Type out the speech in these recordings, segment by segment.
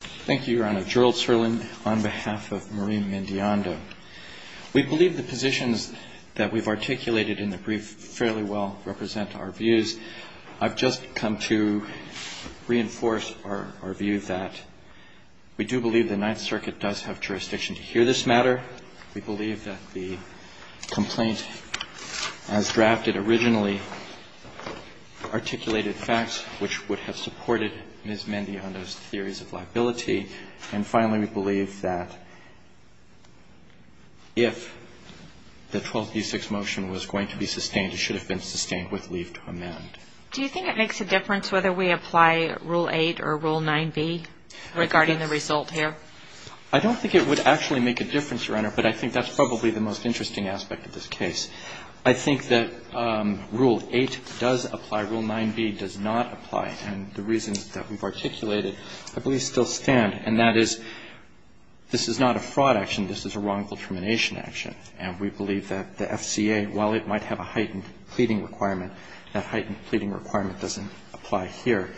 Thank you, Your Honor. Gerald Serlin on behalf of Maureen Mendiondo. We believe the positions that we've articulated in the brief fairly well represent our views. I've just come to reinforce our view that we do believe the Ninth Circuit does have jurisdiction to hear this matter. We believe that the complaint as drafted originally articulated facts, which would have supported Ms. Mendiondo's theories of liability. And finally, we believe that if the 12th v. 6 motion was going to be sustained, it should have been sustained with leave to amend. Do you think it makes a difference whether we apply Rule 8 or Rule 9b regarding the result here? I don't think it would actually make a difference, Your Honor. But I think that's probably the most interesting aspect of this case. I think that Rule 8 does apply. Rule 9b does not apply. And the reasons that we've articulated I believe still stand, and that is this is not a fraud action. This is a wrongful termination action. And we believe that the FCA, while it might have a heightened pleading requirement, that heightened pleading requirement doesn't apply here.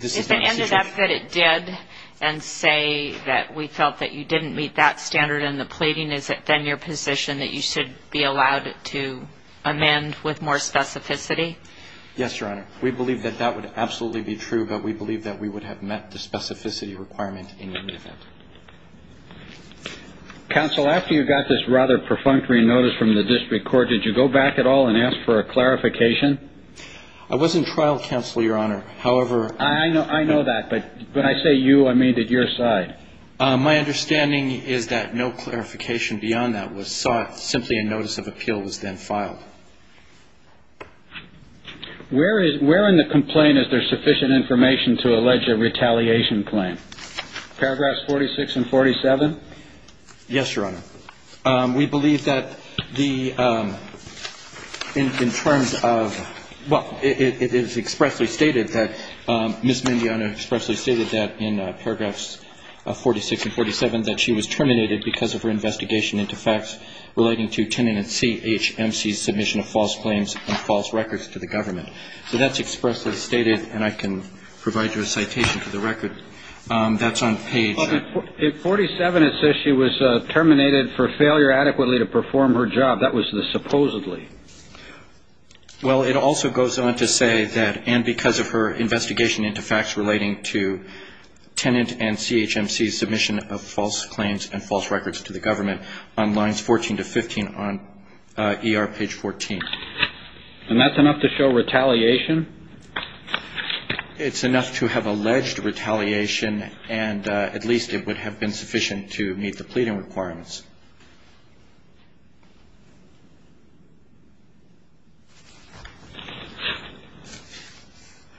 If it ended up that it did and say that we felt that you didn't meet that standard in the pleading, is it then your position that you should be allowed to amend with more specificity? Yes, Your Honor. We believe that that would absolutely be true, but we believe that we would have met the specificity requirement in any event. Counsel, after you got this rather perfunctory notice from the district court, did you go back at all and ask for a clarification? I wasn't trial counsel, Your Honor. However, I know that. But when I say you, I mean that your side. My understanding is that no clarification beyond that was sought. Simply a notice of appeal was then filed. Where in the complaint is there sufficient information to allege a retaliation claim? Paragraphs 46 and 47? Yes, Your Honor. We believe that the – in terms of – well, it is expressly stated that – Ms. Mignogna expressly stated that in paragraphs 46 and 47 that she was terminated because of her investigation into facts relating to Tenon and CHMC's submission of false claims and false records to the government. So that's expressly stated, and I can provide you a citation to the record. That's on page – In 47, it says she was terminated for failure adequately to perform her job. That was the supposedly. Well, it also goes on to say that and because of her investigation into facts relating to Tenon and CHMC's submission of false claims and false records to the government on lines 14 to 15 on ER page 14. And that's enough to show retaliation? It's enough to have alleged retaliation, and at least it would have been sufficient to meet the pleading requirements.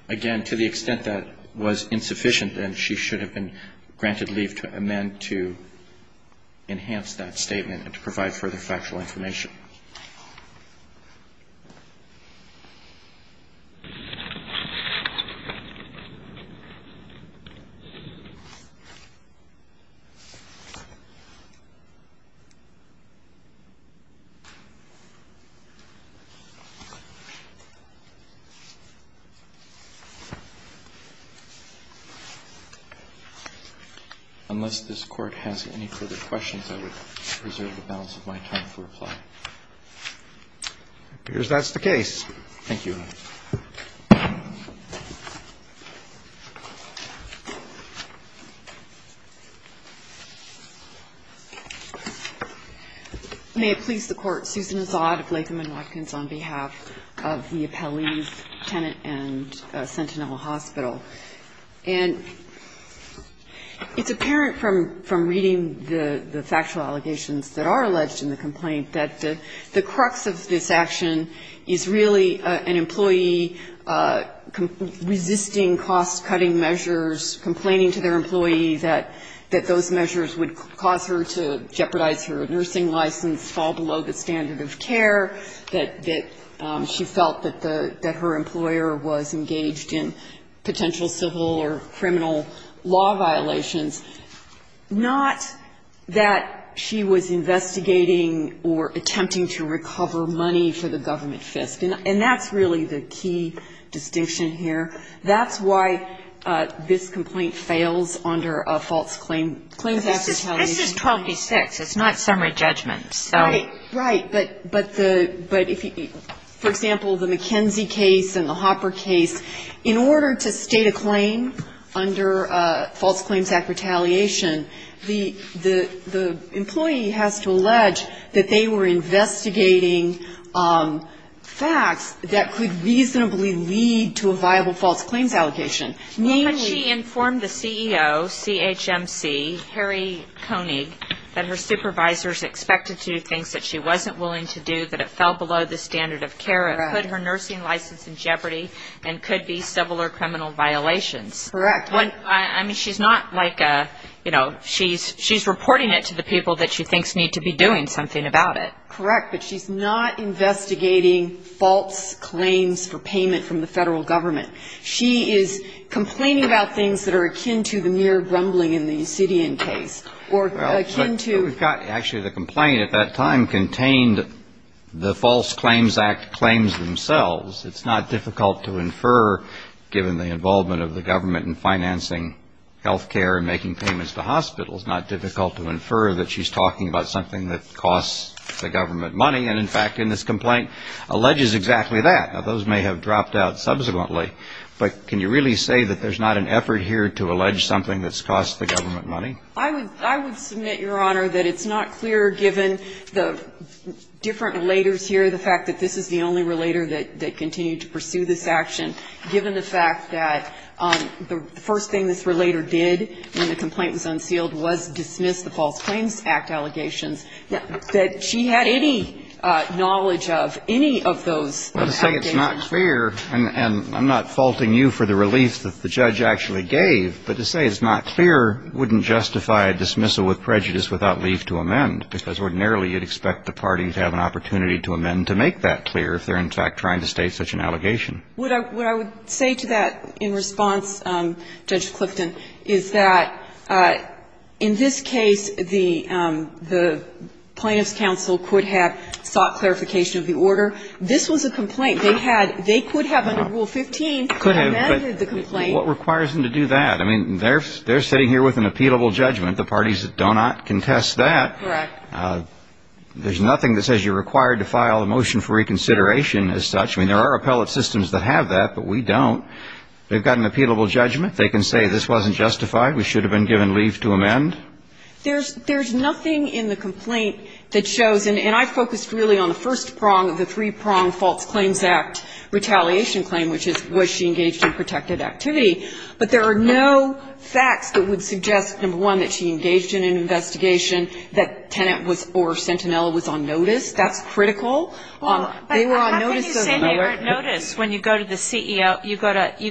Again, to the extent that was insufficient, then she should have been granted leave to amend to enhance that statement and to provide further factual information. Thank you. May it please the Court, Susan Azad of Latham & Watkins on behalf of the appellees, Tenon and Sentinel Hospital. And it's apparent from reading the factual allegations that are alleged in the complaint that the crux of this action is really an employee resisting cost-cutting measures, complaining to their employee that those measures would cause her to jeopardize her nursing license, fall below the standard of care, that she felt that her employer was engaged in potential civil or criminal law violations. Not that she was investigating or attempting to recover money for the government fisc, and that's really the key distinction here. That's why this complaint fails under a false claim, claims act retaliation. But this is 12-B-6. It's not summary judgment, so. Right. But the, but if you, for example, the McKenzie case and the Hopper case, in order to state a claim under false claims act retaliation, the employee has to allege that they were investigating facts that could reasonably lead to a viable false claims allocation. Namely. But she informed the CEO, CHMC, Harry Koenig, that her supervisors expected to do things that she wasn't willing to do, that it fell below the standard of care, it put her nursing license in jeopardy, and could be civil or criminal violations. Correct. I mean, she's not like a, you know, she's reporting it to the people that she thinks need to be doing something about it. Correct. But she's not investigating false claims for payment from the Federal Government. She is complaining about things that are akin to the mere grumbling in the Yucidian case, or akin to. Well, we've got, actually, the complaint at that time contained the false claims act claims themselves. It's not difficult to infer, given the involvement of the government in financing health care and making payments to hospitals, not difficult to infer that she's talking about something that costs the government money. And, in fact, in this complaint, alleges exactly that. Now, those may have dropped out subsequently, but can you really say that there's not an effort here to allege something that's cost the government money? I would submit, Your Honor, that it's not clear, given the different relators here, the fact that this is the only relator that continued to pursue this action, given the fact that the first thing this relator did when the complaint was unsealed was dismiss the false claims act allegations, that she had any knowledge of any of those act allegations. Well, to say it's not clear, and I'm not faulting you for the relief that the judge actually gave, but to say it's not clear wouldn't justify a dismissal with prejudice without leave to amend, because ordinarily you'd expect the parties to have an opportunity to amend to make that clear if they're, in fact, trying to state such an allegation. What I would say to that in response, Judge Clifton, is that in this case, the plaintiff's counsel could have sought clarification of the order. This was a complaint. They had they could have, under Rule 15, amended the complaint. But what requires them to do that? I mean, they're sitting here with an appealable judgment. The parties do not contest that. Correct. There's nothing that says you're required to file a motion for reconsideration as such. I mean, there are appellate systems that have that, but we don't. They've got an appealable judgment. They can say this wasn't justified. We should have been given leave to amend. There's nothing in the complaint that shows, and I focused really on the first prong of the three-prong false claims act retaliation claim, which is was she engaged in protected activity. But there are no facts that would suggest, number one, that she engaged in an investigation, that Tennant was or Sentinella was on notice. That's critical. They were on notice. But how can you say they weren't noticed when you go to the CEO, you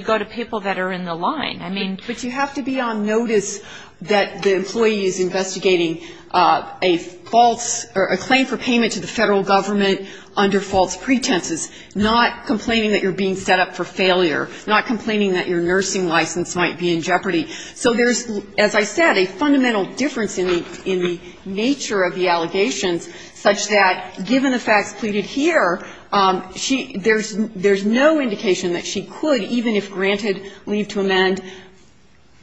go to people that are in the line? I mean. But you have to be on notice that the employee is investigating a false or a claim for payment to the Federal Government under false pretenses, not complaining that you're being set up for failure, not complaining that your nursing license might be in jeopardy. So there's, as I said, a fundamental difference in the nature of the allegations such that given the facts pleaded here, there's no indication that she could, even if granted leave to amend,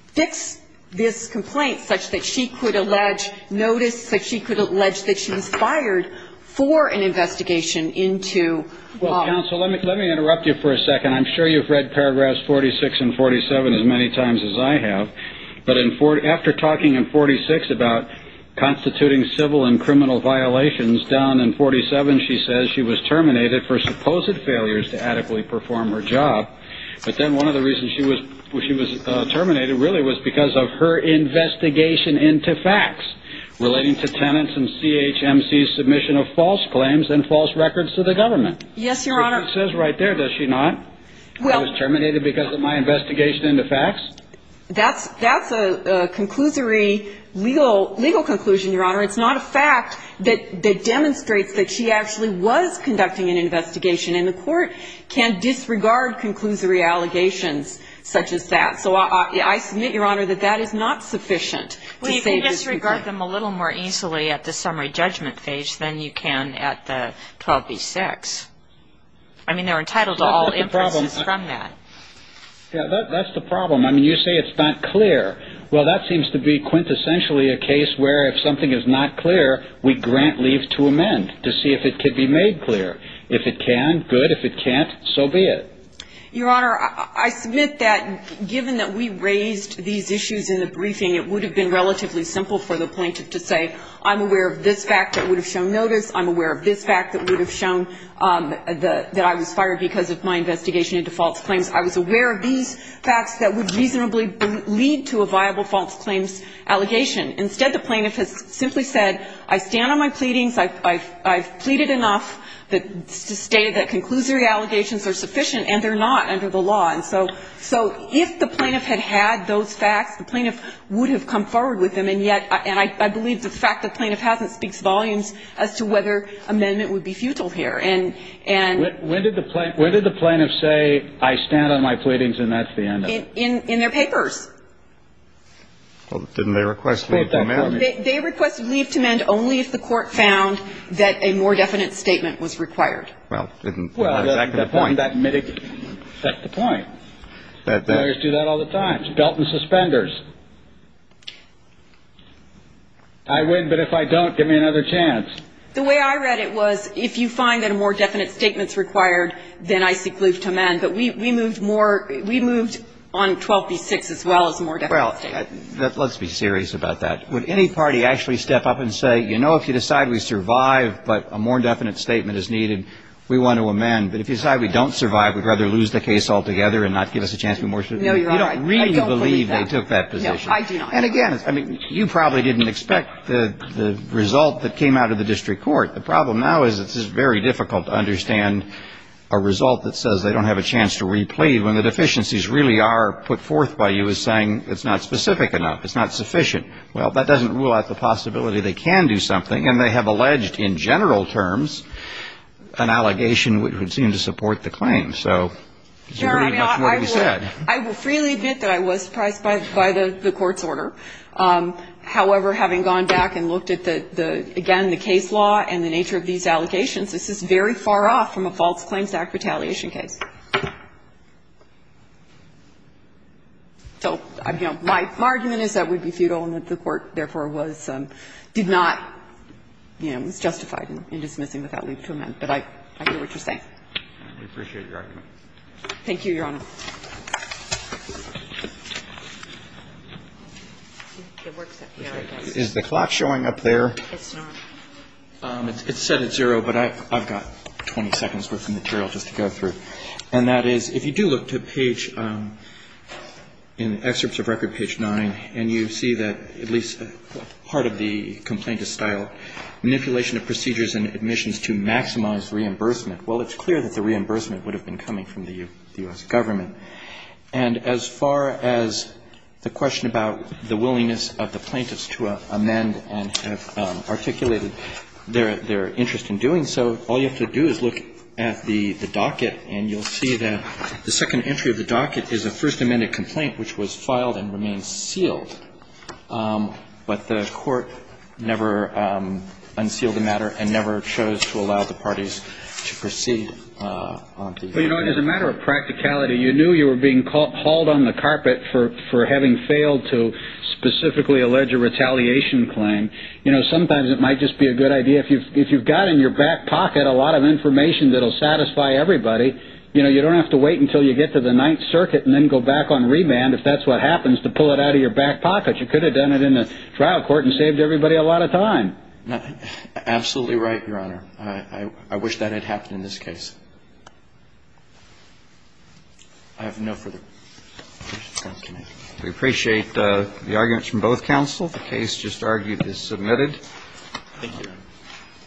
fix this complaint such that she could allege notice, such that she could allege that she was fired for an investigation into. Well, counsel, let me interrupt you for a second. I'm sure you've read paragraphs 46 and 47 as many times as I have. But after talking in 46 about constituting civil and criminal violations, down in 47 she says she was terminated for supposed failures to adequately perform her job. But then one of the reasons she was terminated really was because of her investigation into facts relating to Tennant's and CHMC's submission of false claims and false records to the government. Yes, Your Honor. Which she says right there, does she not? I was terminated because of my investigation into facts? That's a conclusory legal conclusion, Your Honor. It's not a fact that demonstrates that she actually was conducting an investigation. And the Court can disregard conclusory allegations such as that. So I submit, Your Honor, that that is not sufficient to save this complaint. You can disregard them a little more easily at the summary judgment phase than you can at the 12B-6. I mean, they're entitled to all inferences from that. Yeah, that's the problem. I mean, you say it's not clear. Well, that seems to be quintessentially a case where if something is not clear, we grant leave to amend to see if it could be made clear. If it can, good. If it can't, so be it. Your Honor, I submit that given that we raised these issues in the briefing, it would have been relatively simple for the plaintiff to say, I'm aware of this fact that would have shown notice. I'm aware of this fact that would have shown that I was fired because of my investigation into false claims. I was aware of these facts that would reasonably lead to a viable false claims allegation. Instead, the plaintiff has simply said, I stand on my pleadings. I've pleaded enough to state that conclusory allegations are sufficient, and they're not under the law. And so if the plaintiff had had those facts, the plaintiff would have come forward with them. And yet, I believe the fact the plaintiff hasn't speaks volumes as to whether amendment would be futile here. And the plaintiff said, I stand on my pleadings, and that's the end of it. In their papers. Well, didn't they request leave to amend? They requested leave to amend only if the Court found that a more definite statement was required. Well, didn't that affect the point? Lawyers do that all the time. It's belt and suspenders. I win, but if I don't, give me another chance. The way I read it was, if you find that a more definite statement is required, then I seek leave to amend. But we moved more we moved on 12b-6 as well as a more definite statement. Well, let's be serious about that. Would any party actually step up and say, you know, if you decide we survive, but a more definite statement is needed, we want to amend. But if you decide we don't survive, we'd rather lose the case altogether and not give us a chance of remorse. You don't really believe they took that position. And again, I mean, you probably didn't expect the result that came out of the district court. The problem now is it's very difficult to understand a result that says they don't have a chance to replead when the deficiencies really are put forth by you as saying it's not specific enough. It's not sufficient. Well, that doesn't rule out the possibility they can do something. And they have alleged in general terms an allegation which would seem to support the claim. So it's pretty much what he said. I will freely admit that I was surprised by the Court's order. However, having gone back and looked at the, again, the case law and the nature of these allegations, this is very far off from a False Claims Act retaliation case. So, you know, my argument is that would be futile and that the Court, therefore, was, did not, you know, was justified in dismissing without leave to amend. But I hear what you're saying. We appreciate your argument. Thank you, Your Honor. Is the clock showing up there? It's not. It's set at zero, but I've got 20 seconds worth of material just to go through. And that is, if you do look to page, in excerpts of record, page 9, and you see that it says, at least part of the complaint is style, manipulation of procedures and admissions to maximize reimbursement, well, it's clear that the reimbursement would have been coming from the U.S. government. And as far as the question about the willingness of the plaintiffs to amend and have articulated their interest in doing so, all you have to do is look at the docket and you'll see that the second entry of the docket is a first amended complaint which was filed and remains sealed. But the Court never unsealed the matter and never chose to allow the parties to proceed. Well, you know, as a matter of practicality, you knew you were being hauled on the carpet for having failed to specifically allege a retaliation claim. You know, sometimes it might just be a good idea, if you've got in your back pocket a lot of information that will satisfy everybody, you know, you don't have to wait until you get to the Ninth Circuit and then go back on remand if that's what happens to pull it out of your back pocket. You could have done it in the trial court and saved everybody a lot of time. Absolutely right, Your Honor. I wish that had happened in this case. I have no further questions. We appreciate the arguments from both counsel. The case just argued is submitted. Thank you.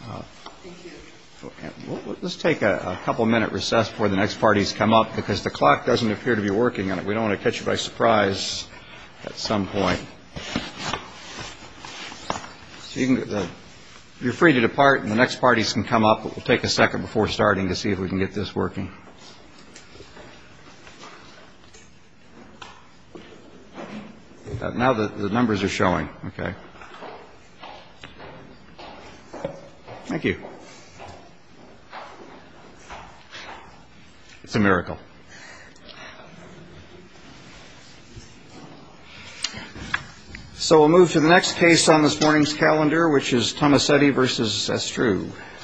Thank you. Let's take a couple of minute recess before the next parties come up because the clock doesn't appear to be working. We don't want to catch you by surprise at some point. You're free to depart and the next parties can come up. We'll take a second before starting to see if we can get this working. Now the numbers are showing. Okay. Thank you. It's a miracle. So we'll move to the next case on this morning's calendar, which is Tomasetti v. Estrue.